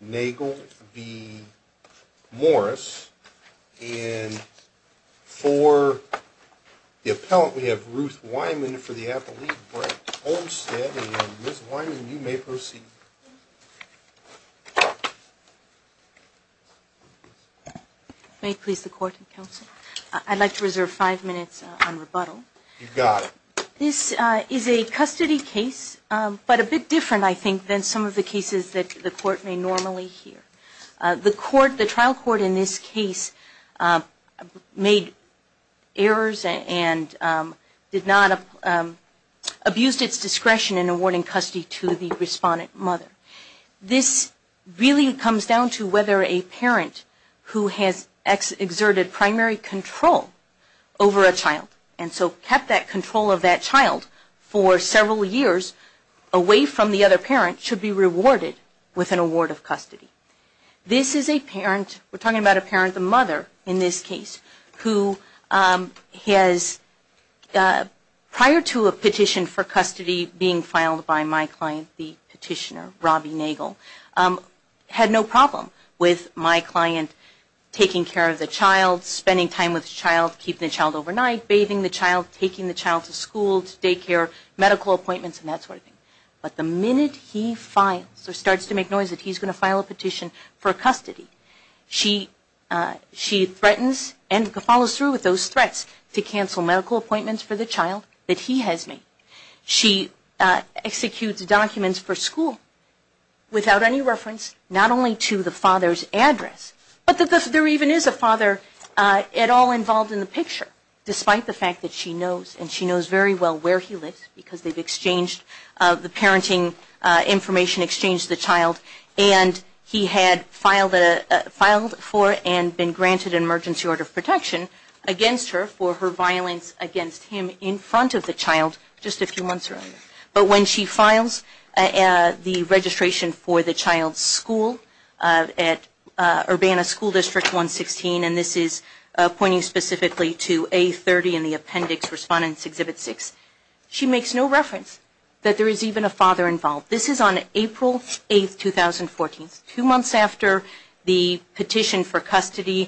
Nagle v. Morris, and for the appellant we have Ruth Wyman for the appellate, Brett Olmstead, and Ms. Wyman, you may proceed. May it please the court and counsel, I'd like to reserve five minutes on rebuttal. You've got it. This is a custody case, but a bit different, I think, than some of the cases that the court may normally hear. The trial court in this case made errors and did not abuse its discretion in awarding custody to the respondent mother. This really comes down to whether a parent who has exerted primary control over a child, and so kept that control of that child for several years away from the other parent, should be rewarded with an award of custody. This is a parent, we're talking about a parent, the mother in this case, who has, prior to a petition for custody being filed by my client, the petitioner, Robbie Nagle, had no problem with my client taking care of the child, spending time with the child, keeping the child overnight, bathing the child, taking the child to school, to daycare, medical appointments, and that sort of thing. But the minute he files, or starts to make noise that he's going to file a petition for custody, she threatens and follows through with those threats to cancel medical appointments for the child that he has made. She executes documents for school without any reference, not only to the father's address, but that there even is a father at all involved in the picture, despite the fact that she knows, and she knows very well where he lives, because they've exchanged the parenting information, exchanged the child. And he had filed for and been granted an emergency order of protection against her for her violence against him in front of the child just a few months earlier. But when she files the registration for the child's school at Urbana School District 116, and this is pointing specifically to A30 in the appendix, Respondents Exhibit 6, she makes no reference that there is even a father involved. This is on April 8, 2014, several months after the petition for custody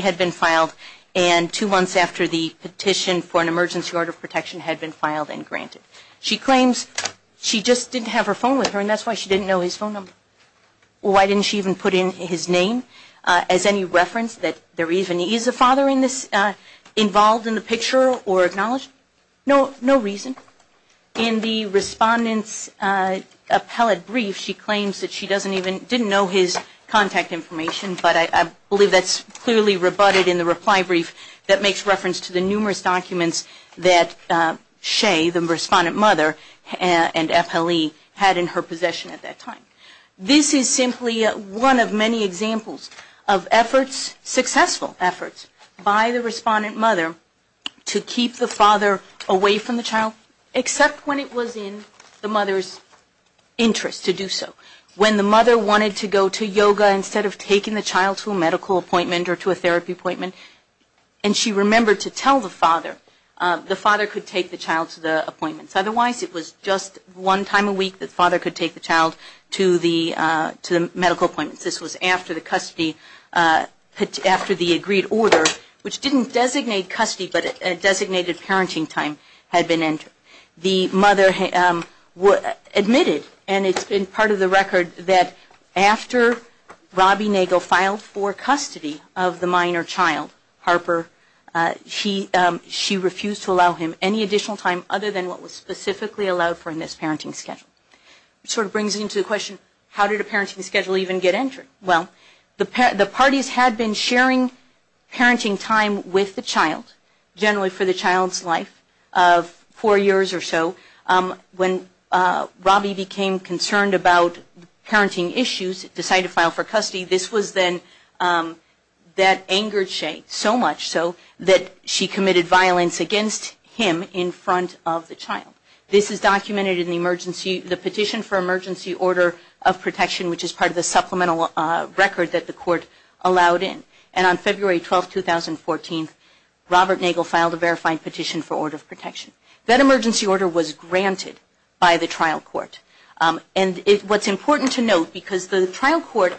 had been filed, and two months after the petition for an emergency order of protection had been filed and granted. She claims she just didn't have her phone with her, and that's why she didn't know his phone number. Why didn't she even put in his name as any reference that there even is a father involved in the picture or acknowledged? No reason. In the Respondent's appellate brief, she claims that she didn't even know his contact information, but I believe that's clearly rebutted in the reply brief that makes reference to the numerous documents that Shea, the Respondent mother, and FLE had in her possession at that time. This is simply one of many examples of efforts, successful efforts, by the Respondent mother to keep the father away from the child, except when it was in the mother's interest to do so. When the mother wanted to go to yoga instead of taking the child to a medical appointment or to a therapy appointment, and she remembered to tell the father, the father could take the child to the appointments. Otherwise, it was just one time a week that the father could take the child to the medical appointments. This was after the custody, after the agreed order, which didn't designate custody, but designated parenting time had been entered. The mother admitted, and it's been part of the record, that after Robbie Nagle filed for custody of the minor child, Harper, she refused to allow him any additional time other than what was specifically allowed for in this parenting schedule. It sort of brings into the question, how did a parenting schedule even get entered? Well, the parties had been sharing parenting time with the child, generally for the child's life of four years or so. When Robbie became concerned about parenting issues, decided to file for custody, this was then that angered Shea so much so that she committed violence against him in front of the child. This is documented in the Petition for Emergency Order of Protection, which is part of the supplemental record that the court allowed in. On February 12, 2014, Robert Nagle filed a verified petition for order of protection. That emergency order was granted by the trial court. What's important to note, because the trial court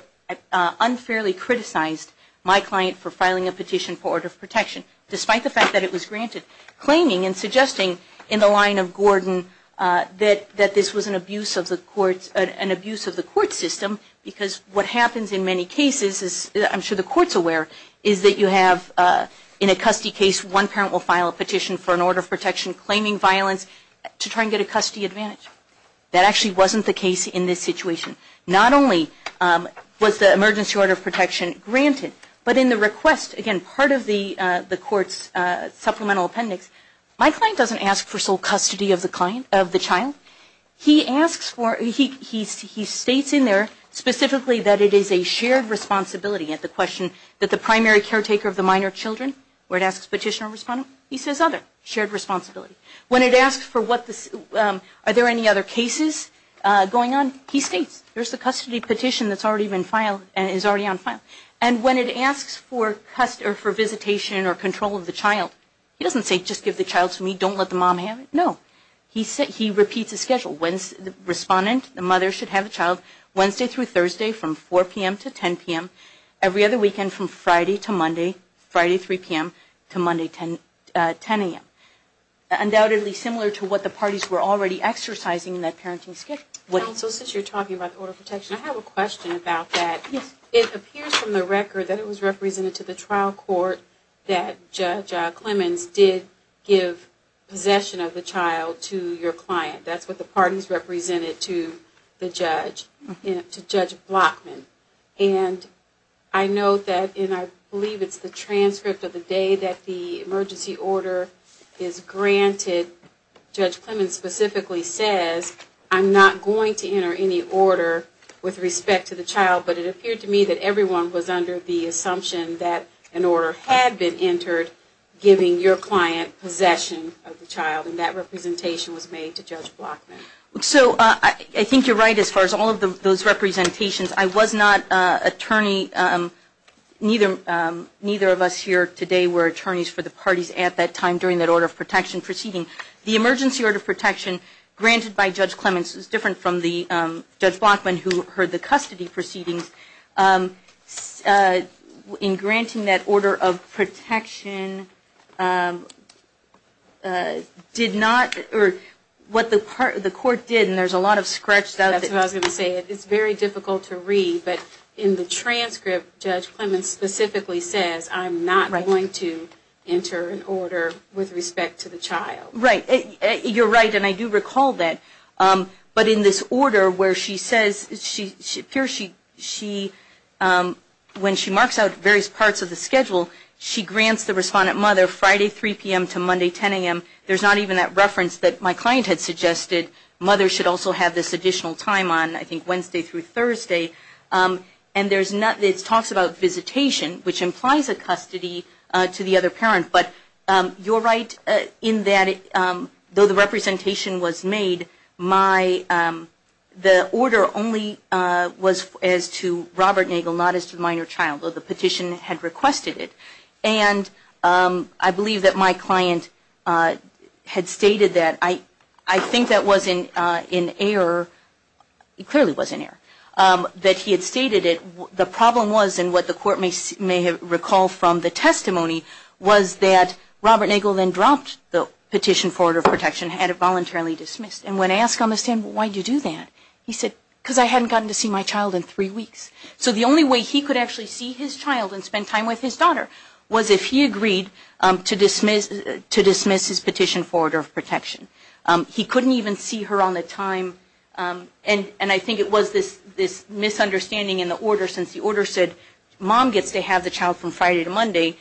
unfairly criticized my client for filing a petition for order of protection, despite the fact that it was granted, claiming and suggesting in the line of Gordon that this was an abuse of the court system, because what happens in many cases, I'm sure the court's aware, is that you have, in a custody case, one parent will file a petition for an order of protection claiming violence to try and get a custody advantage. That actually wasn't the case in this situation. Not only was the emergency order of protection granted, but in the request, again, part of the court's supplemental appendix, my client doesn't ask for sole custody of the child. He states in there specifically that it is a shared responsibility at the question that the primary caretaker of the minor children, where it asks petitioner or respondent, he says other, shared responsibility. When it asks for what the, are there any other cases going on, he states, there's the custody petition that's already been filed and is already on file. And when it asks for visitation or control of the child, he doesn't say just give the child to me, don't let the mom have it. No. He repeats a schedule. Respondent, the mother should have the child Wednesday through Thursday from 4 p.m. to 10 p.m. Every other weekend from Friday to Monday, Friday 3 p.m. to Monday 10 a.m. Undoubtedly similar to what the parties were already exercising in that parenting schedule. So since you're talking about the order of protection, I have a question about that. Yes. It appears from the record that it was represented to the trial court that Judge Clemmons did give possession of the child to your client. That's what the parties represented to the judge, to Judge Blockman. And I note that, and I believe it's the transcript of the day that the emergency order is granted, Judge Clemmons specifically says, I'm not going to enter any order with respect to the child. But it appeared to me that everyone was under the assumption that an order had been entered giving your client possession of the child. And that representation was made to Judge Blockman. So I think you're right as far as all of those representations. I was not an attorney. Neither of us here today were attorneys for the parties at that time during that order of protection proceeding. The emergency order of protection granted by Judge Clemmons is different from the Judge Blockman who heard the custody proceedings. In granting that order of protection did not, or what the court did, and there's a lot of scratched out there. That's what I was going to say. It's very difficult to read. But in the transcript, Judge Clemmons specifically says, I'm not going to enter an order with respect to the child. Right. You're right, and I do recall that. But in this order where she says, it appears when she marks out various parts of the schedule, she grants the respondent mother Friday 3 p.m. to Monday 10 a.m. There's not even that reference that my client had suggested. Mother should also have this additional time on, I think, Wednesday through Thursday. And it talks about visitation, which implies a custody to the other parent. But you're right in that, though the representation was made, the order only was as to Robert Nagel, not as to the minor child. Though the petition had requested it. And I believe that my client had stated that. I think that was in error. It clearly was in error. That he had stated it. The problem was, and what the court may recall from the testimony, was that Robert Nagel then dropped the petition for order of protection, had it voluntarily dismissed. And when asked on the stand, why did you do that? He said, because I hadn't gotten to see my child in three weeks. So the only way he could actually see his child and spend time with his daughter was if he agreed to dismiss his petition for order of protection. He couldn't even see her on the time. And I think it was this misunderstanding in the order, since the order said mom gets to have the child from Friday to Monday,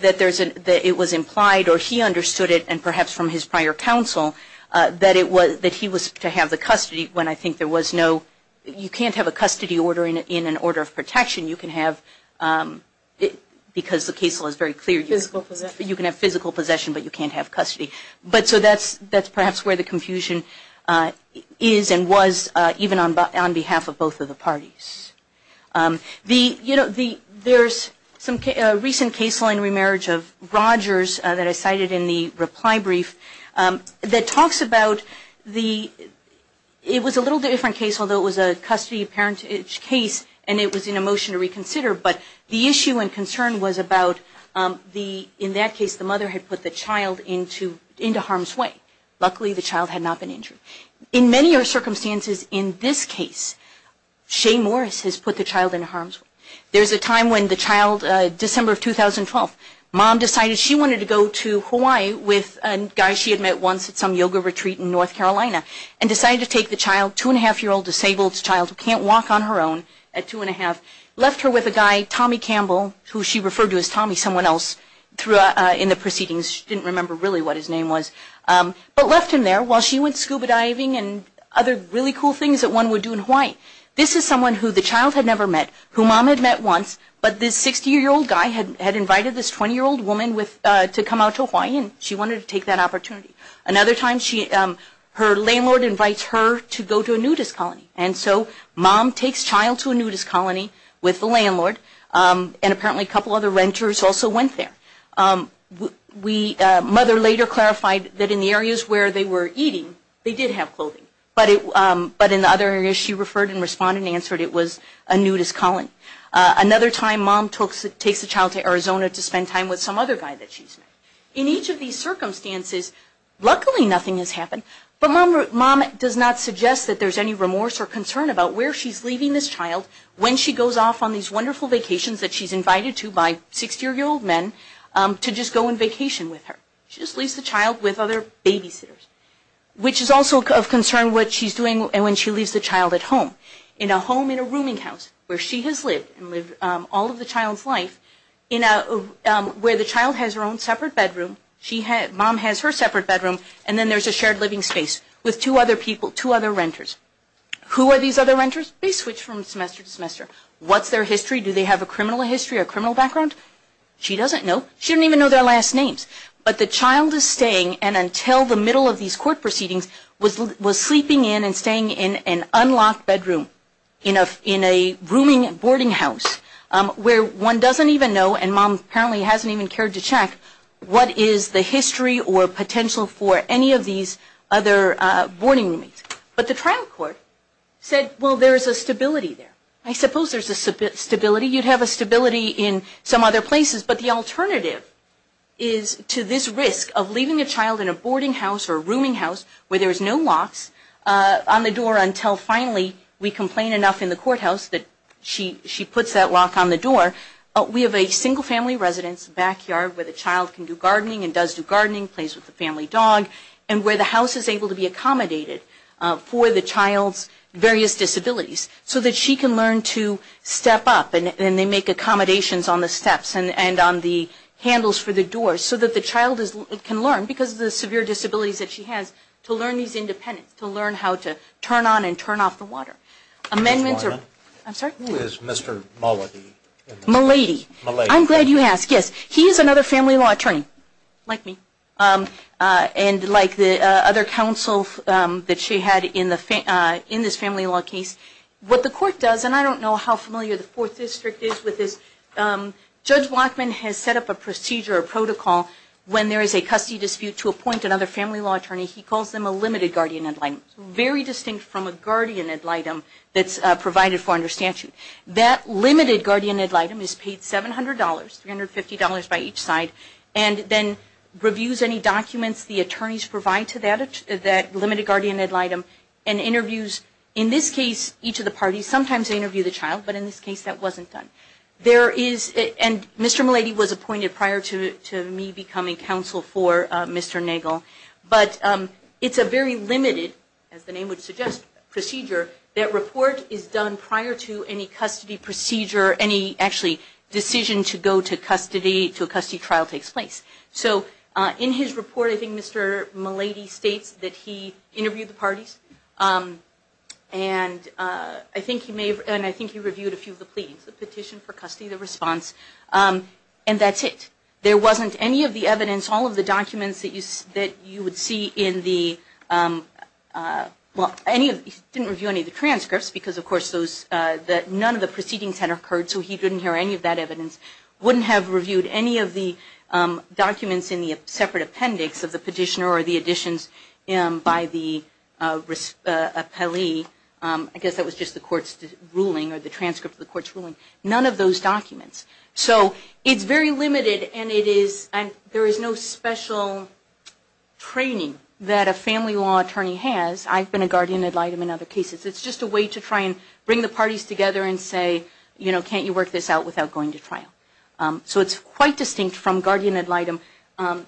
that it was implied, or he understood it, and perhaps from his prior counsel, that he was to have the custody, when I think there was no, you can't have a custody order in an order of protection. You can have, because the case law is very clear, you can have physical possession, but you can't have custody. But so that's perhaps where the confusion is and was, even on behalf of both of the parties. There's a recent case law in remarriage of Rogers that I cited in the reply brief that talks about the, it was a little different case, although it was a custody parentage case, and it was in a motion to reconsider, but the issue and concern was about the, in that case the mother had put the child into harm's way. Luckily the child had not been injured. In many circumstances in this case, Shay Morris has put the child in harm's way. There's a time when the child, December of 2012, mom decided she wanted to go to Hawaii with a guy she had met once at some yoga retreat in North Carolina, and decided to take the child, two and a half year old disabled child, who can't walk on her own at two and a half, left her with a guy, Tommy Campbell, who she referred to as Tommy, someone else in the proceedings. She didn't remember really what his name was, but left him there while she went scuba diving and other really cool things that one would do in Hawaii. This is someone who the child had never met, who mom had met once, but this 60-year-old guy had invited this 20-year-old woman to come out to Hawaii, and she wanted to take that opportunity. Another time, her landlord invites her to go to a nudist colony, and so mom takes child to a nudist colony with the landlord, and apparently a couple other renters also went there. Mother later clarified that in the areas where they were eating, they did have clothing, but in the other areas she referred and responded and answered it was a nudist colony. Another time, mom takes the child to Arizona to spend time with some other guy that she's met. In each of these circumstances, luckily nothing has happened, but mom does not suggest that there's any remorse or concern about where she's leaving this child when she goes off on these wonderful vacations that she's invited to by 60-year-old men to just go on vacation with her. She just leaves the child with other babysitters, which is also of concern what she's doing when she leaves the child at home. In a home in a rooming house where she has lived and lived all of the child's life, where the child has her own separate bedroom, mom has her separate bedroom, and then there's a shared living space with two other renters. Who are these other renters? They switch from semester to semester. What's their history? Do they have a criminal history or a criminal background? She doesn't know. She doesn't even know their last names. But the child is staying, and until the middle of these court proceedings, was sleeping in and staying in an unlocked bedroom in a rooming boarding house where one doesn't even know, and mom apparently hasn't even cared to check, what is the history or potential for any of these other boarding rooms. But the trial court said, well, there's a stability there. I suppose there's a stability. You'd have a stability in some other places, but the alternative is to this risk of leaving a child in a boarding house or a rooming house where there's no locks on the door until finally we complain enough in the courthouse that she puts that lock on the door. We have a single family residence backyard where the child can do gardening and does do gardening, plays with the family dog, and where the they make accommodations on the steps and on the handles for the doors so that the child can learn, because of the severe disabilities that she has, to learn these independence, to learn how to turn on and turn off the water. Who is Mr. Malady? Malady. Malady. I'm glad you asked. Yes, he is another family law attorney, like me, and like the other counsel that she had in this family law case. What the court does, and I don't know how familiar the Fourth District is with this, Judge Wachman has set up a procedure, a protocol, when there is a custody dispute, to appoint another family law attorney. He calls them a limited guardian ad litem, very distinct from a guardian ad litem that's provided for under statute. That limited guardian ad litem is paid $700, $350 by each side, and then reviews any documents the attorneys provide to that limited guardian ad litem and interviews, in this case, each of the parties. Sometimes they interview the child, but in this case that wasn't done. There is, and Mr. Malady was appointed prior to me becoming counsel for Mr. Nagel, but it's a very limited, as the name would suggest, procedure, that report is done prior to any custody procedure, any, actually, decision to go to custody, to a custody trial takes place. So, in his report, I think Mr. Malady states that he interviewed the parties, and I think he reviewed a few of the pleadings, the petition for custody, the response, and that's it. There wasn't any of the evidence, all of the documents that you would see in the, well, he didn't review any of the transcripts, because, of course, none of the proceedings had occurred, so he didn't hear any of that evidence. Wouldn't have reviewed any of the documents in the separate appendix of the petitioner or the additions by the appellee. I guess that was just the court's ruling, or the transcript of the court's ruling. None of those documents. So, it's very limited, and it is, and there is no special training that a family law attorney has. I've been a guardian ad litem in other cases. It's just a way to try and bring the parties together and say, you know, can't you work this out without going to trial. So, it's quite distinct from guardian ad litem. You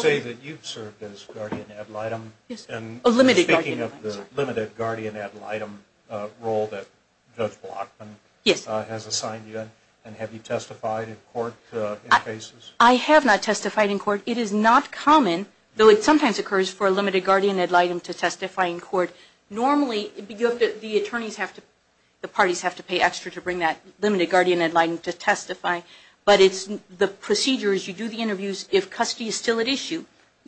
say that you've served as guardian ad litem. Yes. Speaking of the limited guardian ad litem role that Judge Blockman has assigned you, and have you testified in court in cases? I have not testified in court. It is not common, though it sometimes occurs for a limited guardian ad litem to testify in court. Normally, the attorneys have to, the parties have to pay extra to bring that limited guardian ad litem to testify, but the procedure is you do the interviews. If custody is still at issue,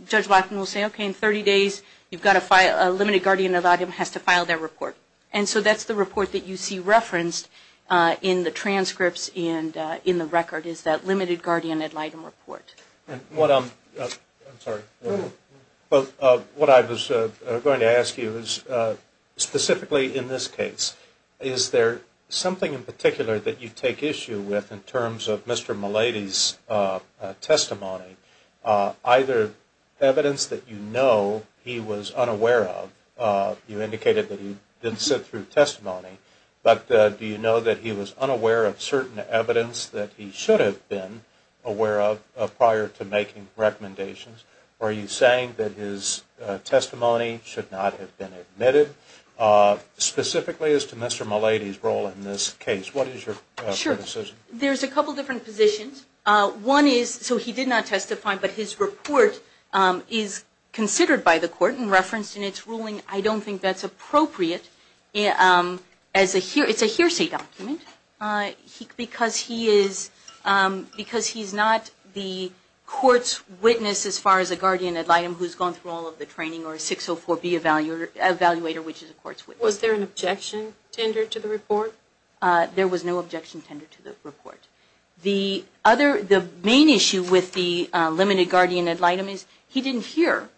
Judge Blockman will say, okay, in 30 days, you've got to file, a limited guardian ad litem has to file their report. And so that's the report that you see referenced in the transcripts and in the record is that limited guardian ad litem report. And what I'm, I'm sorry, what I was going to ask you is, specifically in this case, is there something in particular that you take issue with in terms of Mr. Malady's testimony? Either evidence that you know he was unaware of, you indicated that he did sit through testimony, but do you know that he was unaware of certain evidence that he should have been aware of prior to making recommendations, or are you saying that his testimony should not have been admitted? Specifically as to Mr. Malady's role in this case, what is your decision? Sure. There's a couple different positions. One is, so he did not testify, but his report is considered by the court and referenced in its ruling. I don't think that's appropriate as a, it's a hearsay document because he is, because he's not the court's witness as far as a guardian ad litem who's gone through all of the training or a 604B evaluator which is a court's witness. Was there an objection tendered to the report? There was no objection tendered to the report. The other, the main issue with the limited guardian ad litem is he didn't hear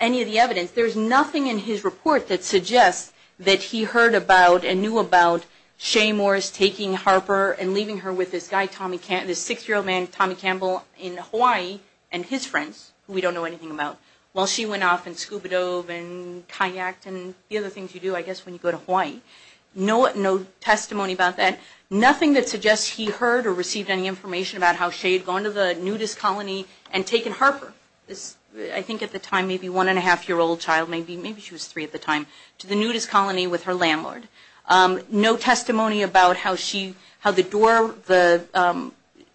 any of the evidence. There's nothing in his report that suggests that he heard about and knew about Shea Morris taking Harper and leaving her with this guy, this six-year-old man, Tommy Campbell, in Hawaii and his friends, who we don't know anything about, while she went off and scuba dove and kayaked and the other things you do, I guess, when you go to Hawaii. No testimony about that. Nothing that suggests he heard or received any information about how Shea had gone to the nudist colony and taken Harper. I think at the time maybe one-and-a-half-year-old child, maybe she was three at the time, to the nudist colony with her landlord. No testimony about how she, how the door,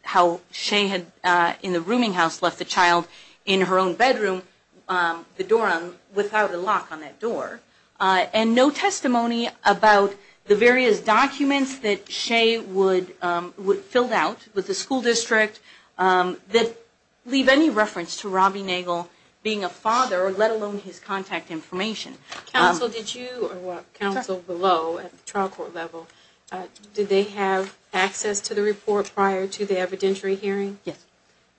how Shea had, in the rooming house, left the child in her own bedroom, the door, without a lock on that door. And no testimony about the various documents that Shea would, would fill out with the school district that leave any reference to Robbie Nagle being a father, let alone his contact information. Counsel, did you, or counsel below at the trial court level, did they have access to the report prior to the evidentiary hearing? Yes.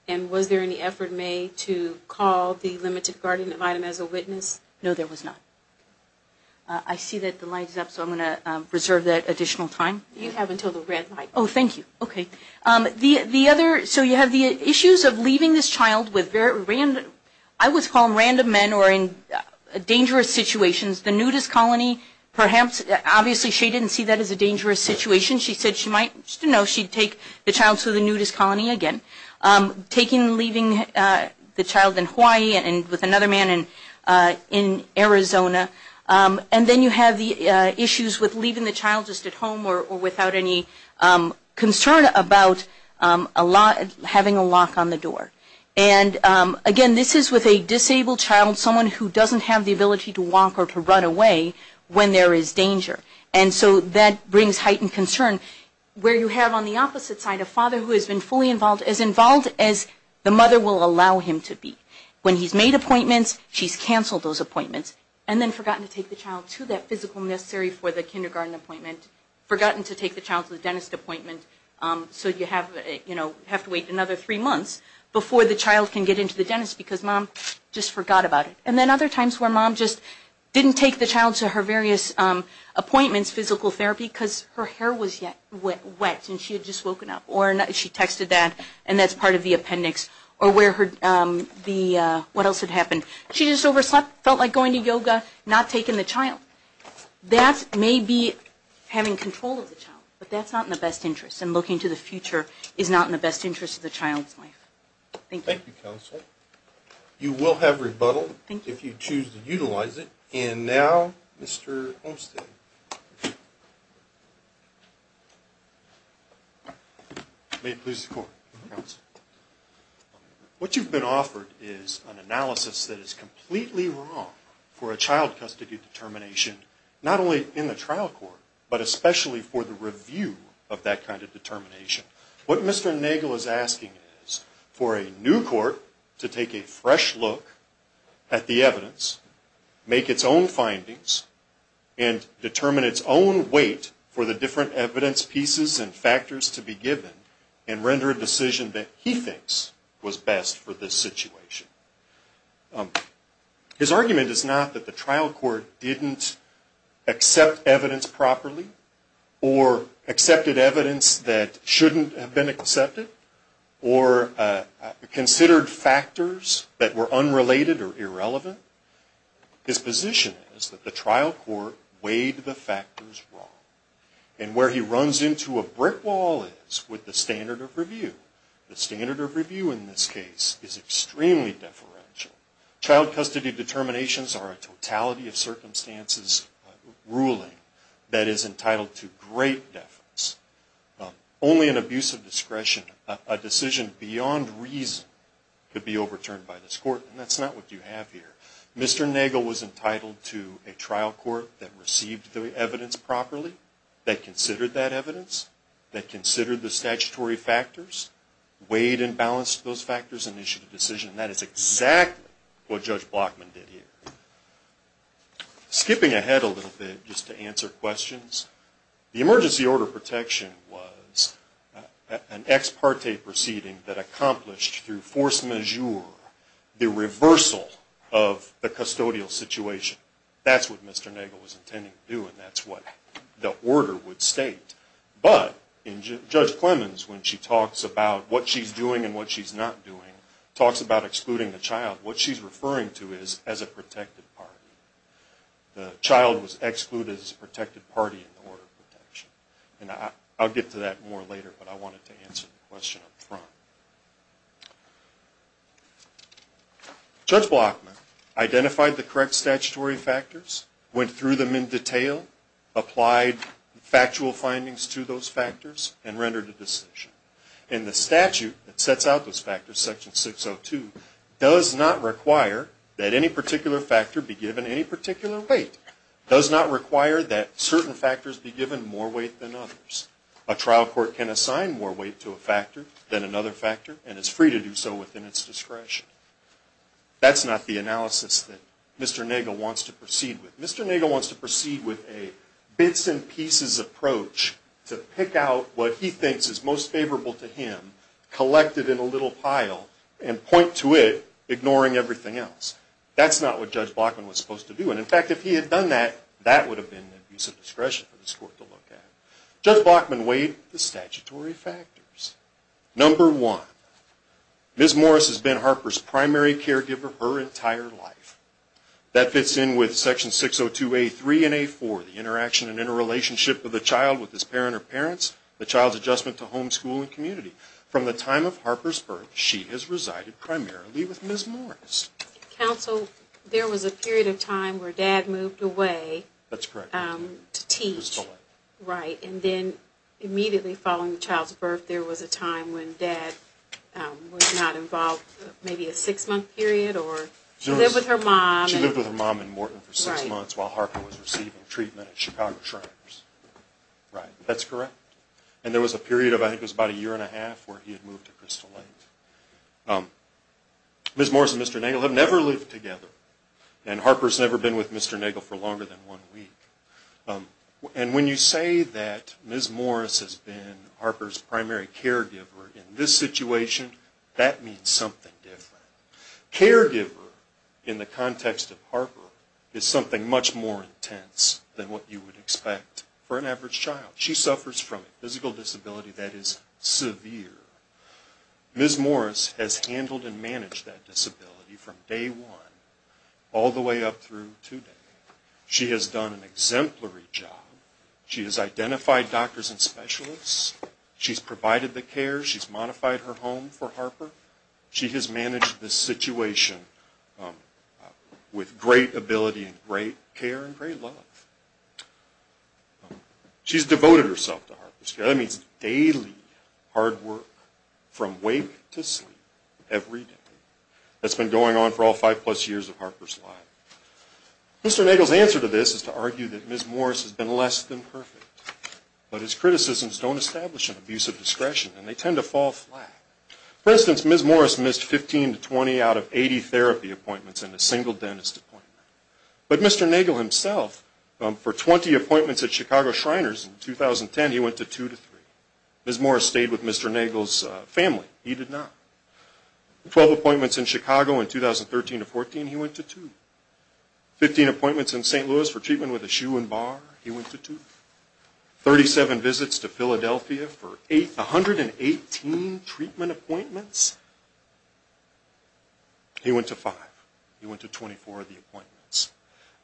And was there any effort made to call the limited guardian ad litem as a witness? No, there was not. I see that the light is up, so I'm going to reserve that additional time. You have until the red light. Oh, thank you. Okay. The, the other, so you have the issues of leaving this child with very random, I always call them random men or in dangerous situations. The nudist colony, perhaps, obviously Shea didn't see that as a dangerous situation. She said she might, you know, she'd take the child to the nudist colony again. Taking, leaving the child in Hawaii and with another man in, in Arizona. And then you have the issues with leaving the child just at home or, or without any concern about a lot, having a lock on the door. And again, this is with a disabled child, someone who doesn't have the ability to walk or to run away when there is danger. And so that brings heightened concern. Where you have on the opposite side a father who has been fully involved, as involved as the mother will allow him to be. When he's made appointments, she's canceled those appointments. And then forgotten to take the child to that physical nursery for the kindergarten appointment. Forgotten to take the child to the dentist appointment. So you have, you know, have to wait another three months before the child can get into the dentist because mom just forgot about it. And then other times where mom just didn't take the child to her various appointments, physical therapy, because her hair was wet and she had just woken up. Or she texted that and that's part of the appendix. Or where her, the, what else had happened? She just overslept, felt like going to yoga, not taking the child. That may be having control of the child. But that's not in the best interest. And looking to the future is not in the best interest of the child's life. Thank you. Thank you, Counsel. You will have rebuttal if you choose to utilize it. And now, Mr. Olmstead. May it please the Court. Counsel. What you've been offered is an analysis that is completely wrong for a child custody determination, not only in the trial court, but especially for the review of that kind of determination. What Mr. Nagle is asking is for a new court to take a fresh look at the evidence, make its own findings, and determine its own weight for the different evidence pieces and factors to be given and render a decision that he thinks was best for this situation. His argument is not that the trial court didn't accept evidence properly or accepted evidence that shouldn't have been accepted or considered factors that were unrelated or irrelevant. His position is that the trial court weighed the factors wrong. And where he runs into a brick wall is with the standard of review. The standard of review in this case is extremely deferential. Child custody determinations are a totality of circumstances ruling that is entitled to great deference. Only an abuse of discretion, a decision beyond reason, could be overturned by this court. And that's not what you have here. Mr. Nagle was entitled to a trial court that received the evidence properly, that considered that evidence, that considered the statutory factors, weighed and balanced those factors, and issued a decision. And that is exactly what Judge Blockman did here. Skipping ahead a little bit just to answer questions, the emergency order of protection was an ex parte proceeding that accomplished through force majeure the reversal of the custodial situation. That's what Mr. Nagle was intending to do and that's what the order would state. But in Judge Clemmons, when she talks about what she's doing and what she's not doing, talks about excluding the child, what she's referring to is as a protected party. The child was excluded as a protected party in the order of protection. And I'll get to that more later, but I wanted to answer the question up front. Judge Blockman identified the correct statutory factors, went through them in detail, applied factual findings to those factors, and rendered a decision. And the statute that sets out those factors, Section 602, does not require that any particular factor be given any particular weight. It does not require that certain factors be given more weight than others. A trial court can assign more weight to a factor than another factor and is free to do so within its discretion. That's not the analysis that Mr. Nagle wants to proceed with. Mr. Nagle wants to proceed with a bits and pieces approach to pick out what he thinks is most favorable to him, collect it in a little pile, and point to it, ignoring everything else. That's not what Judge Blockman was supposed to do. And in fact, if he had done that, that would have been an abuse of discretion for this court to look at. Judge Blockman weighed the statutory factors. Number one, Ms. Morris has been Harper's primary caregiver her entire life. That fits in with Section 602A3 and A4, the interaction and interrelationship of the child with his parent or parents, the child's adjustment to home, school, and community. From the time of Harper's birth, she has resided primarily with Ms. Morris. Counsel, there was a period of time where Dad moved away to teach. And then immediately following the child's birth, there was a time when Dad was not involved, maybe a six-month period, or she lived with her mom. She lived with her mom in Morton for six months while Harper was receiving treatment at Chicago Shriners. Right, that's correct. And there was a period of, I think it was about a year and a half, where he had moved to Crystal Lake. Ms. Morris and Mr. Nagel have never lived together, and Harper's never been with Mr. Nagel for longer than one week. And when you say that Ms. Morris has been Harper's primary caregiver in this situation, that means something different. Caregiver in the context of Harper is something much more intense than what you would expect for an average child. She suffers from a physical disability that is severe. Ms. Morris has handled and managed that disability from day one all the way up through today. She has done an exemplary job. She has identified doctors and specialists. She's provided the care. She's modified her home for Harper. She has managed this situation with great ability and great care and great love. She's devoted herself to Harper. That means daily hard work from wake to sleep every day. That's been going on for all five-plus years of Harper's life. Mr. Nagel's answer to this is to argue that Ms. Morris has been less than perfect, but his criticisms don't establish an abuse of discretion, and they tend to fall flat. For instance, Ms. Morris missed 15 to 20 out of 80 therapy appointments in a single dentist appointment. But Mr. Nagel himself, for 20 appointments at Chicago Shriners in 2010, he went to two to three. Ms. Morris stayed with Mr. Nagel's family. He did not. Twelve appointments in Chicago in 2013 to 2014, he went to two. Fifteen appointments in St. Louis for treatment with a shoe and bar, he went to two. Thirty-seven visits to Philadelphia for 118 treatment appointments, he went to five. He went to 24 of the appointments.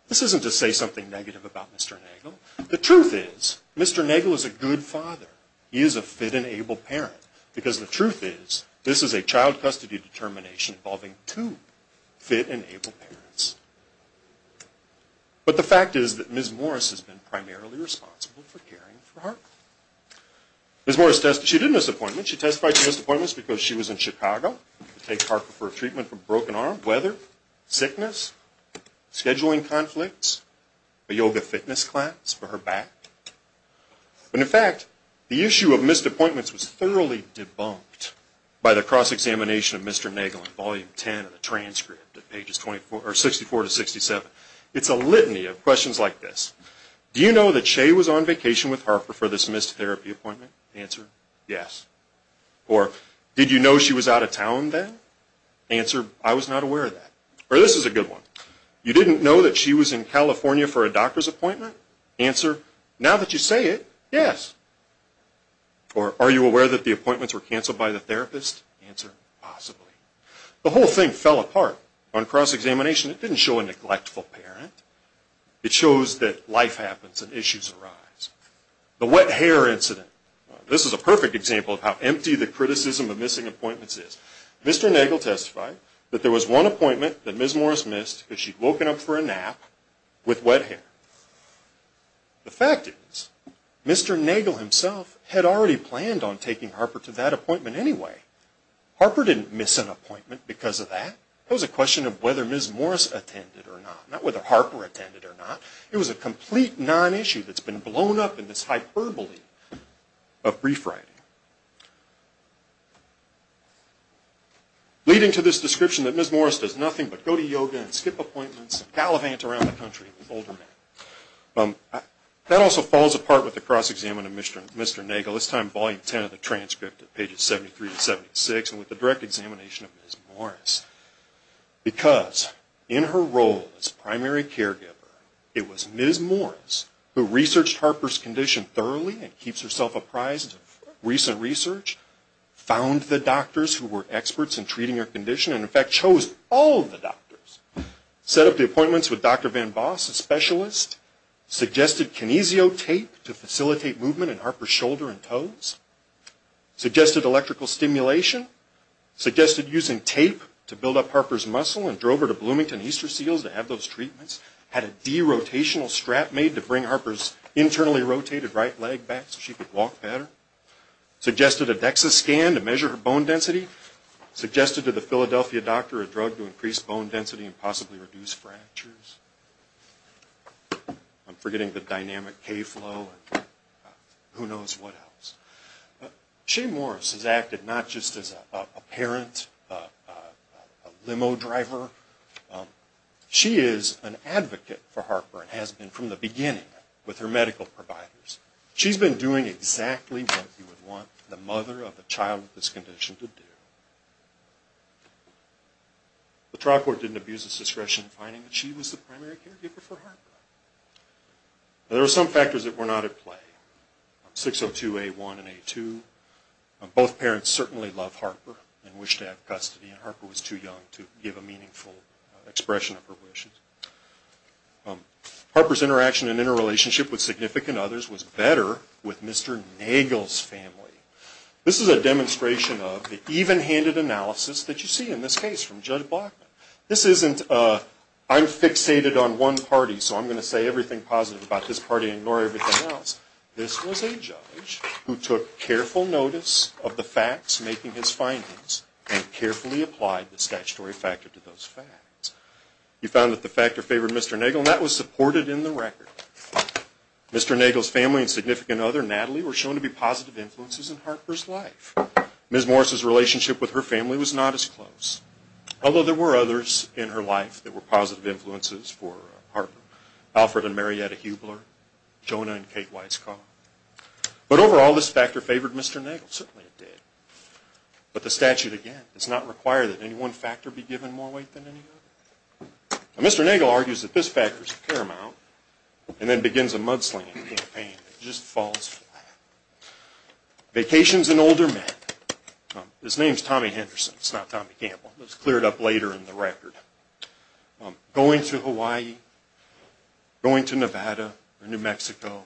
This isn't to say something negative about Mr. Nagel. The truth is Mr. Nagel is a good father. He is a fit and able parent because the truth is this is a child custody determination involving two fit and able parents. But the fact is that Ms. Morris has been primarily responsible for caring for Harker. Ms. Morris testified. She did miss appointments. She testified to missed appointments because she was in Chicago to take Harker for a treatment for a broken arm, weather, sickness, scheduling conflicts, a yoga fitness class for her back. And, in fact, the issue of missed appointments was thoroughly debunked by the cross-examination of Mr. Nagel in Volume 10 of the transcript at pages 64 to 67. It's a litany of questions like this. Do you know that Shea was on vacation with Harker for this missed therapy appointment? Answer, yes. Or did you know she was out of town then? Answer, I was not aware of that. Or this is a good one. You didn't know that she was in California for a doctor's appointment? Answer, now that you say it, yes. Or are you aware that the appointments were canceled by the therapist? Answer, possibly. The whole thing fell apart on cross-examination. It didn't show a neglectful parent. It shows that life happens and issues arise. The wet hair incident. This is a perfect example of how empty the criticism of missing appointments is. Mr. Nagel testified that there was one appointment that Ms. Morris missed because she'd woken up for a nap with wet hair. The fact is, Mr. Nagel himself had already planned on taking Harker to that appointment anyway. Harker didn't miss an appointment because of that. It was a question of whether Ms. Morris attended or not. Not whether Harker attended or not. It was a complete non-issue that's been blown up in this hyperbole of brief writing. Leading to this description that Ms. Morris does nothing but go to yoga and skip appointments and gallivant around the country with older men. That also falls apart with the cross-examination of Mr. Nagel. This time, Volume 10 of the transcript at pages 73 to 76, and with the direct examination of Ms. Morris. Because in her role as primary caregiver, it was Ms. Morris who researched Harker's condition thoroughly and keeps herself apprised of recent research, found the doctors who were experts in treating her condition, and in fact, chose all of the doctors. Set up the appointments with Dr. Van Boss, a specialist. Suggested kinesio tape to facilitate movement in Harker's shoulder and toes. Suggested electrical stimulation. Suggested using tape to build up Harker's muscle and drove her to Bloomington Easter Seals to have those treatments. Had a derotational strap made to bring Harker's internally rotated right leg back so she could walk better. Suggested a DEXA scan to measure her bone density. Suggested to the Philadelphia doctor a drug to increase bone density and possibly reduce fractures. I'm forgetting the dynamic K flow. Who knows what else? Shea Morris has acted not just as a parent, a limo driver. She is an advocate for Harker and has been from the beginning with her medical providers. She's been doing exactly what you would want the mother of a child with this condition to do. The trial court didn't abuse its discretion in finding that she was the primary caregiver for Harker. There were some factors that were not at play. 602A1 and A2. Both parents certainly loved Harker and wished to have custody. Harker was too young to give a meaningful expression of her wishes. Harker's interaction and interrelationship with significant others was better with Mr. Nagel's family. This is a demonstration of the even-handed analysis that you see in this case from Judge Blackman. This isn't I'm fixated on one party so I'm going to say everything positive about this party and ignore everything else. This was a judge who took careful notice of the facts making his findings and carefully applied the statutory factor to those facts. He found that the factor favored Mr. Nagel and that was supported in the record. Mr. Nagel's family and significant other Natalie were shown to be positive influences in Harker's life. Ms. Morris' relationship with her family was not as close. Although there were others in her life that were positive influences for Harker. Alfred and Marietta Hubler, Jonah and Kate Weisskopf. But overall this factor favored Mr. Nagel, certainly it did. But the statute again does not require that any one factor be given more weight than any other. Mr. Nagel argues that this factor is paramount and then begins a mudslinging campaign that just falls flat. Vacations and older men. His name is Tommy Henderson, it's not Tommy Campbell. It was cleared up later in the record. Going to Hawaii, going to Nevada or New Mexico.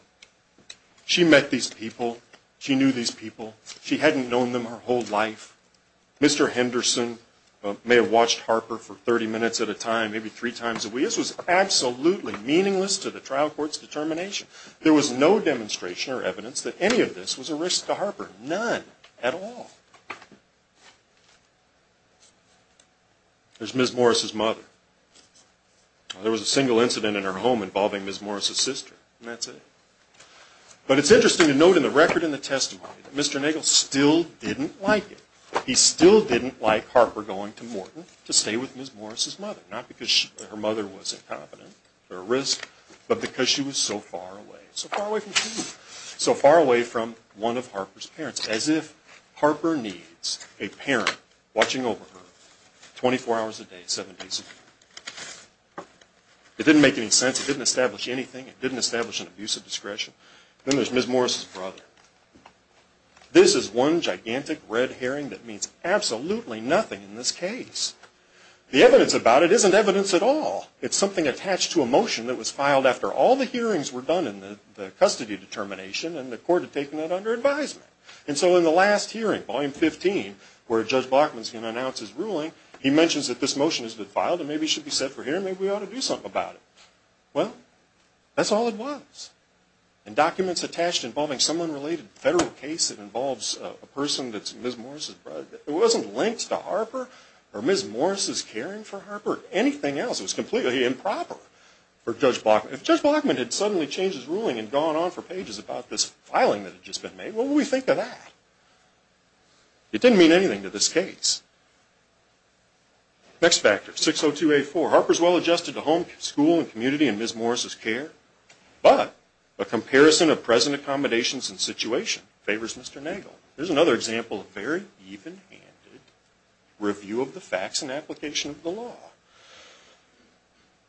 She met these people, she knew these people, she hadn't known them her whole life. Mr. Henderson may have watched Harker for 30 minutes at a time, maybe three times a week. This was absolutely meaningless to the trial court's determination. There was no demonstration or evidence that any of this was a risk to Harker. None at all. There's Ms. Morris' mother. There was a single incident in her home involving Ms. Morris' sister, and that's it. But it's interesting to note in the record and the testimony that Mr. Nagel still didn't like it. He still didn't like Harker going to Morton to stay with Ms. Morris' mother. Not because her mother was incompetent or a risk, but because she was so far away. So far away from who? It's as if Harker needs a parent watching over her 24 hours a day, seven days a week. It didn't make any sense. It didn't establish anything. It didn't establish an abuse of discretion. Then there's Ms. Morris' brother. This is one gigantic red herring that means absolutely nothing in this case. The evidence about it isn't evidence at all. It's something attached to a motion that was filed after all the hearings were done and the custody determination and the court had taken that under advisement. And so in the last hearing, Volume 15, where Judge Blockman is going to announce his ruling, he mentions that this motion has been filed and maybe it should be set for hearing. Maybe we ought to do something about it. Well, that's all it was. And documents attached involving some unrelated federal case that involves a person that's Ms. Morris' brother. It wasn't linked to Harper or Ms. Morris' caring for Harper or anything else. It was completely improper for Judge Blockman. If Judge Blockman had suddenly changed his ruling and gone on for pages about this filing that had just been made, what would we think of that? It didn't mean anything to this case. Next factor, 602A4. Harper's well-adjusted to home, school, and community in Ms. Morris' care, but a comparison of present accommodations and situation favors Mr. Nagel. Here's another example of very even-handed review of the facts and application of the law.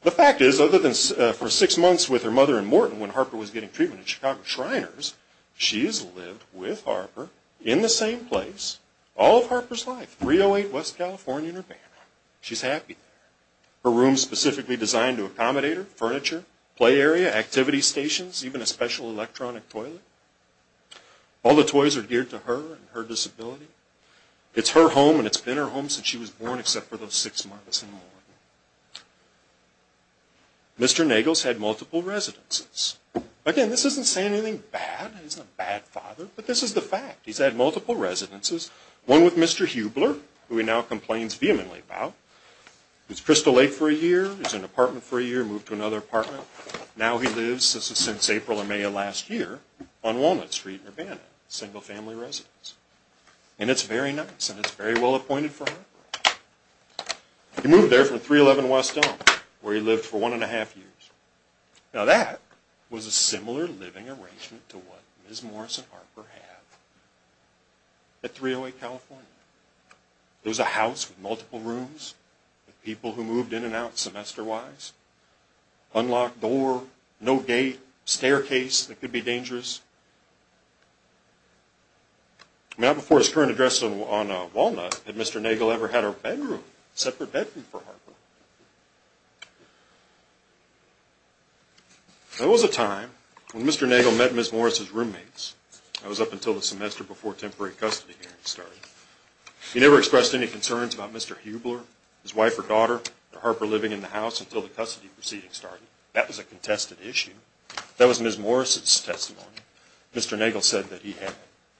The fact is, other than for six months with her mother in Morton when Harper was getting treatment at Chicago Shriners, she has lived with Harper in the same place all of Harper's life, 308 West California in her banner. She's happy there. Her room's specifically designed to accommodate her, furniture, play area, activity stations, even a special electronic toilet. All the toys are geared to her and her disability. It's her home and it's been her home since she was born except for those six months in Morton. Mr. Nagel's had multiple residences. Again, this isn't saying anything bad. He's not a bad father, but this is the fact. He's had multiple residences, one with Mr. Hubler, who he now complains vehemently about. He was Crystal Lake for a year. He was in an apartment for a year, moved to another apartment. Now he lives, this is since April or May of last year, on Walnut Street in Urbana, a single family residence. And it's very nice and it's very well appointed for Harper. He moved there from 311 West Elm where he lived for one and a half years. Now that was a similar living arrangement to what Ms. Morris and Harper have at 308 California. There was a house with multiple rooms with people who moved in and out semester-wise. Unlocked door, no gate, staircase that could be dangerous. Now before his current address on Walnut, had Mr. Nagel ever had a bedroom, separate bedroom for Harper? There was a time when Mr. Nagel met Ms. Morris' roommates. That was up until the semester before temporary custody hearings started. He never expressed any concerns about Mr. Hubler, his wife or daughter, or Harper living in the house until the custody proceedings started. That was a contested issue. That was Ms. Morris' testimony. Mr. Nagel said that he had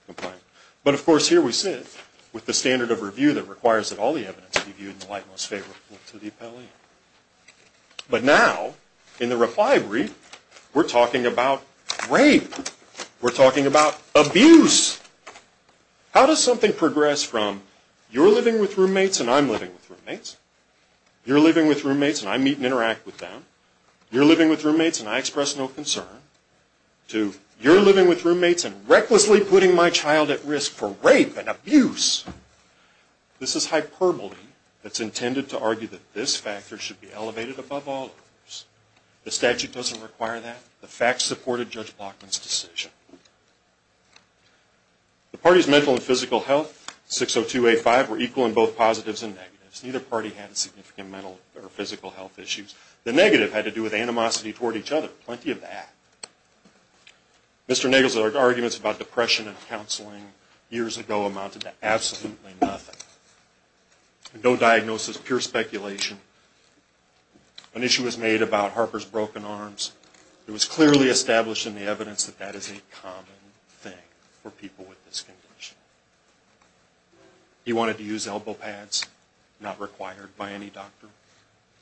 complained. But of course here we sit, with the standard of review that requires that all the evidence be viewed in the light most favorable to the appellee. But now, in the reply brief, we're talking about rape. We're talking about abuse. How does something progress from, you're living with roommates and I'm living with roommates, you're living with roommates and I meet and interact with them, you're living with roommates and I express no concern, to you're living with roommates and recklessly putting my child at risk for rape and abuse. This is hyperbole that's intended to argue that this factor should be elevated above all others. The statute doesn't require that. The facts supported Judge Blockman's decision. The party's mental and physical health, 602A5, were equal in both positives and negatives. Neither party had significant mental or physical health issues. The negative had to do with animosity toward each other. Plenty of that. Mr. Nagel's arguments about depression and counseling years ago amounted to absolutely nothing. No diagnosis, pure speculation. An issue was made about Harper's broken arms. It was clearly established in the evidence that that is a common thing for people with this condition. He wanted to use elbow pads, not required by any doctor,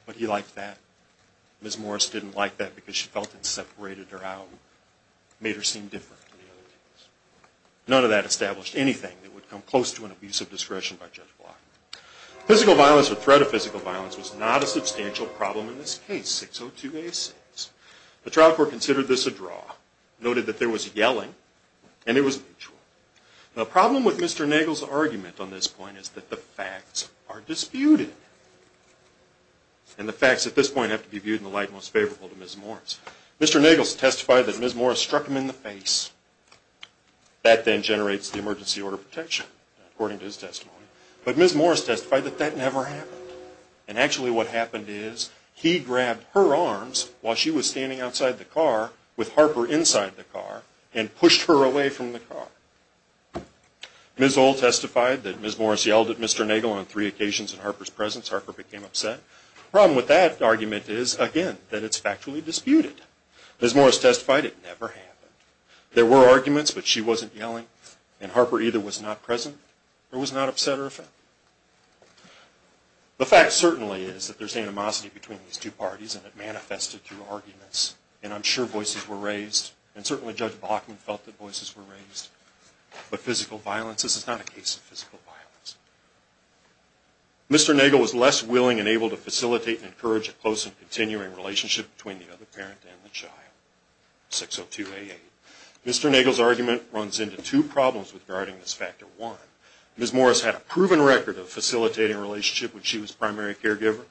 but he liked that. Ms. Morris didn't like that because she felt it separated her out, made her seem different. None of that established anything that would come close to an abuse of discretion by Judge Blockman. Physical violence or threat of physical violence was not a substantial problem in this case, 602A6. The trial court considered this a draw, noted that there was yelling, and it was mutual. The problem with Mr. Nagel's argument on this point is that the facts are disputed. And the facts at this point have to be viewed in the light most favorable to Ms. Morris. Mr. Nagel has testified that Ms. Morris struck him in the face. That then generates the emergency order of protection, according to his testimony. But Ms. Morris testified that that never happened. And actually what happened is he grabbed her arms while she was standing outside the car with Harper inside the car and pushed her away from the car. Ms. Old testified that Ms. Morris yelled at Mr. Nagel on three occasions in Harper's presence. Harper became upset. The problem with that argument is, again, that it's factually disputed. Ms. Morris testified it never happened. There were arguments, but she wasn't yelling. And Harper either was not present or was not upset or offended. The fact certainly is that there's animosity between these two parties, and it manifested through arguments. And I'm sure voices were raised. And certainly Judge Bachman felt that voices were raised. But physical violence, this is not a case of physical violence. Mr. Nagel was less willing and able to facilitate and encourage a close and continuing relationship between the other parent and the child, 602A8. Mr. Nagel's argument runs into two problems regarding this factor one. Ms. Morris had a proven record of facilitating a relationship when she was primary caregiver,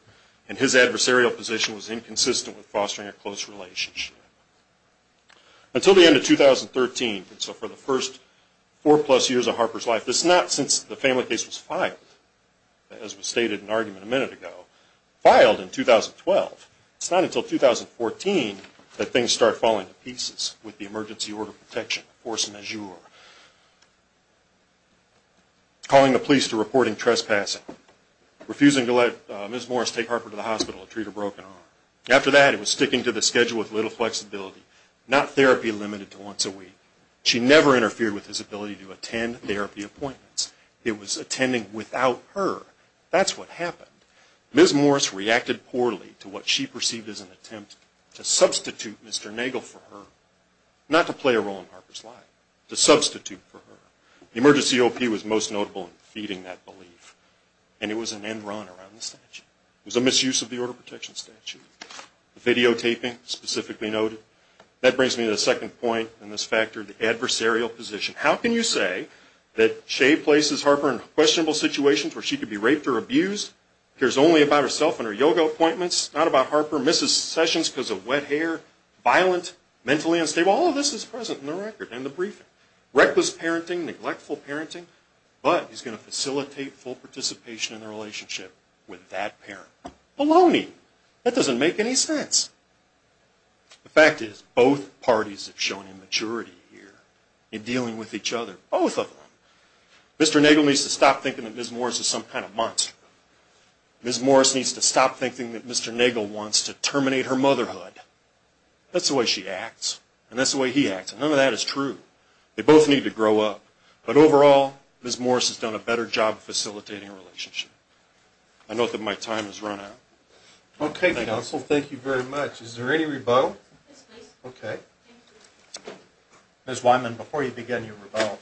and his adversarial position was inconsistent with fostering a close relationship. Until the end of 2013, so for the first four-plus years of Harper's life, it's not since the family case was filed, as was stated in an argument a minute ago, filed in 2012. It's not until 2014 that things start falling to pieces with the emergency order protection force majeure, calling the police to reporting trespassing, refusing to let Ms. Morris take Harper to the hospital and treat her broken arm. After that, it was sticking to the schedule with little flexibility, not therapy limited to once a week. She never interfered with his ability to attend therapy appointments. It was attending without her. That's what happened. Ms. Morris reacted poorly to what she perceived as an attempt to substitute Mr. Nagel for her, not to play a role in Harper's life, to substitute for her. The emergency OP was most notable in feeding that belief, and it was an end run around the statute. It was a misuse of the order protection statute. The videotaping specifically noted. That brings me to the second point in this factor, the adversarial position. How can you say that Shea places Harper in questionable situations where she could be raped or abused, cares only about herself and her yoga appointments, not about Harper, misses sessions because of wet hair, violent, mentally unstable? All of this is present in the record, in the briefing. Reckless parenting, neglectful parenting, but he's going to facilitate full participation in the relationship with that parent. Baloney! That doesn't make any sense. The fact is, both parties have shown immaturity here in dealing with each other. Both of them. Mr. Nagel needs to stop thinking that Ms. Morris is some kind of monster. Ms. Morris needs to stop thinking that Mr. Nagel wants to terminate her motherhood. That's the way she acts, and that's the way he acts, and none of that is true. They both need to grow up. But overall, Ms. Morris has done a better job facilitating a relationship. I note that my time has run out. Okay, counsel, thank you very much. Is there any rebuttal? Yes, please. Okay. Ms. Wyman, before you begin your rebuttal,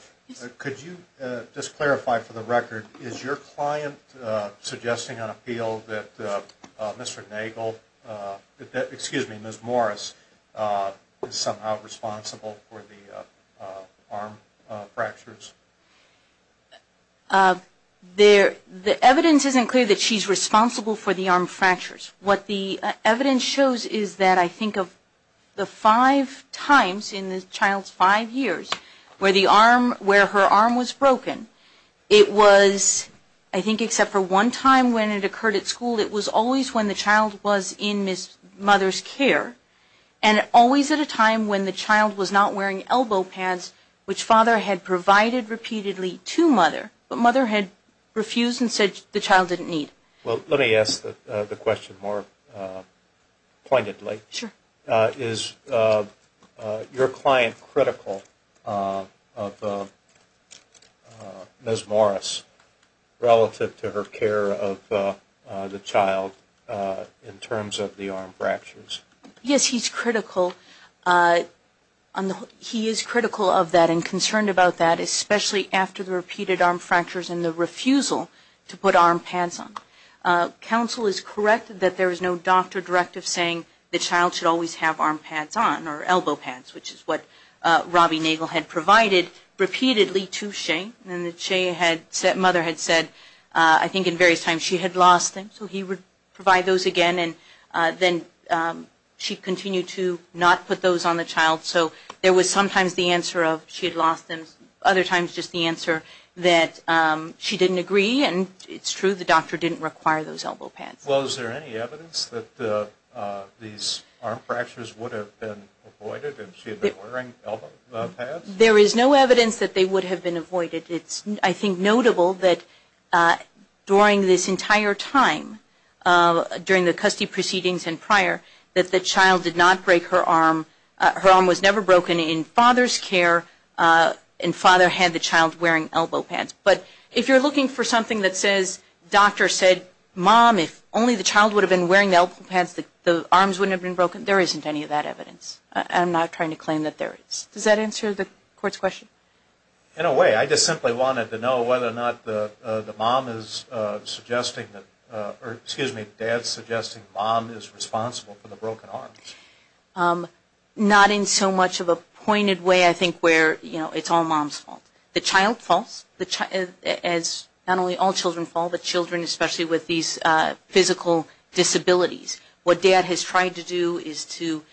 could you just clarify for the record, is your client suggesting on appeal that Mr. Nagel, excuse me, Ms. Morris, is somehow responsible for the arm fractures? The evidence isn't clear that she's responsible for the arm fractures. What the evidence shows is that I think of the five times in the child's five years where her arm was broken, it was, I think except for one time when it occurred at school, it was always when the child was in mother's care, and always at a time when the child was not wearing elbow pads, which father had provided repeatedly to mother, but mother had refused and said the child didn't need. Well, let me ask the question more pointedly. Sure. Is your client critical of Ms. Morris relative to her care of the child in terms of the arm fractures? Yes, he's critical. He is critical of that and concerned about that, especially after the repeated arm fractures and the refusal to put arm pads on. Counsel is correct that there is no doctor directive saying the child should always have arm pads on or elbow pads, which is what Robbie Nagel had provided repeatedly to Shea, and that Shea had said, mother had said, I think in various times she had lost them, so he would provide those again, and then she continued to not put those on the child, so there was sometimes the answer of she had lost them, other times just the answer that she didn't agree, and it's true the doctor didn't require those elbow pads. Well, is there any evidence that these arm fractures would have been avoided if she had been wearing elbow pads? There is no evidence that they would have been avoided. It's, I think, notable that during this entire time, during the custody proceedings and prior, that the child did not break her arm. Her arm was never broken in father's care, and father had the child wearing elbow pads. But if you're looking for something that says doctor said, mom, if only the child would have been wearing elbow pads, the arms wouldn't have been broken, there isn't any of that evidence. I'm not trying to claim that there is. Does that answer the court's question? In a way. I just simply wanted to know whether or not the mom is suggesting, or excuse me, dad's suggesting mom is responsible for the broken arms. Not in so much of a pointed way, I think, where it's all mom's fault. The child falls. Not only all children fall, but children especially with these physical disabilities. What dad has tried to do is to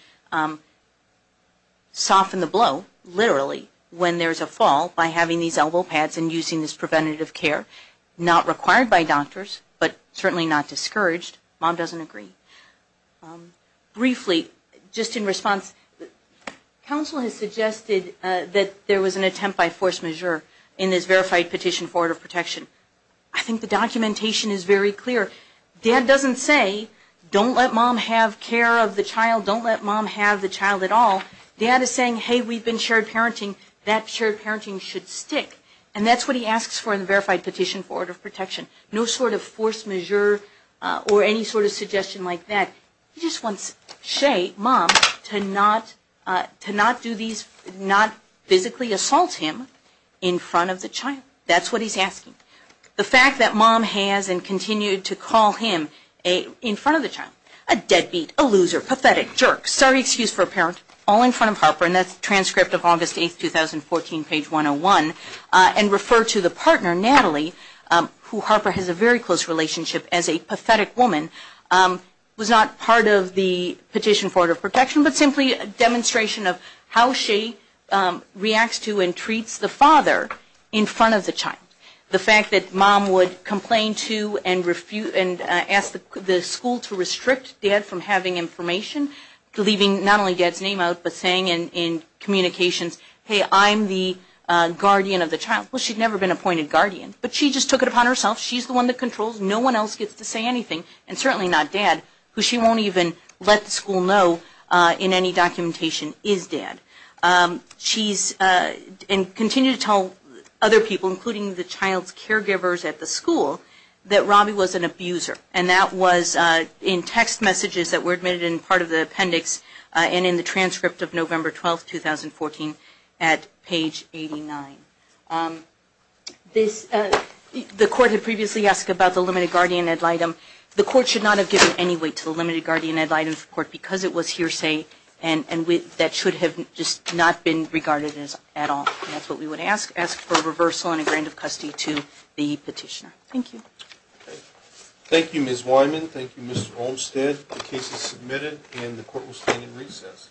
soften the blow, literally, when there's a fall by having these elbow pads and using this preventative care. Not required by doctors, but certainly not discouraged. Mom doesn't agree. Briefly, just in response, counsel has suggested that there was an attempt by force majeure in this verified petition for order of protection. I think the documentation is very clear. Dad doesn't say, don't let mom have care of the child, don't let mom have the child at all. Dad is saying, hey, we've been shared parenting, that shared parenting should stick. And that's what he asks for in the verified petition for order of protection. No sort of force majeure or any sort of suggestion like that. He just wants Shea, mom, to not do these, not physically assault him in front of the child. That's what he's asking. The fact that mom has and continued to call him in front of the child, a deadbeat, a loser, pathetic, jerk, sorry excuse for a parent, all in front of Harper, and that's transcript of August 8, 2014, page 101, and refer to the partner, Natalie, who Harper has a very close relationship as a pathetic woman, was not part of the petition for order of protection, but simply a demonstration of how Shea reacts to and treats the father in front of the child. The fact that mom would complain to and ask the school to restrict dad from having information, leaving not only dad's name out, but saying in communications, hey, I'm the guardian of the child. Well, she'd never been appointed guardian, but she just took it upon herself. She's the one that controls. No one else gets to say anything, and certainly not dad, who she won't even let the school know in any documentation is dad. She's, and continued to tell other people, including the child's caregivers at the school, that Robbie was an abuser, and that was in text messages that were admitted in part of the appendix and in the transcript of November 12, 2014, at page 89. The court had previously asked about the limited guardian ad litem. The court should not have given any weight to the limited guardian ad litem hearsay, and that should have just not been regarded at all. That's what we would ask, ask for reversal and a grant of custody to the petitioner. Thank you. Thank you, Ms. Wyman. Thank you, Mr. Olmstead. The case is submitted, and the court will stand in recess.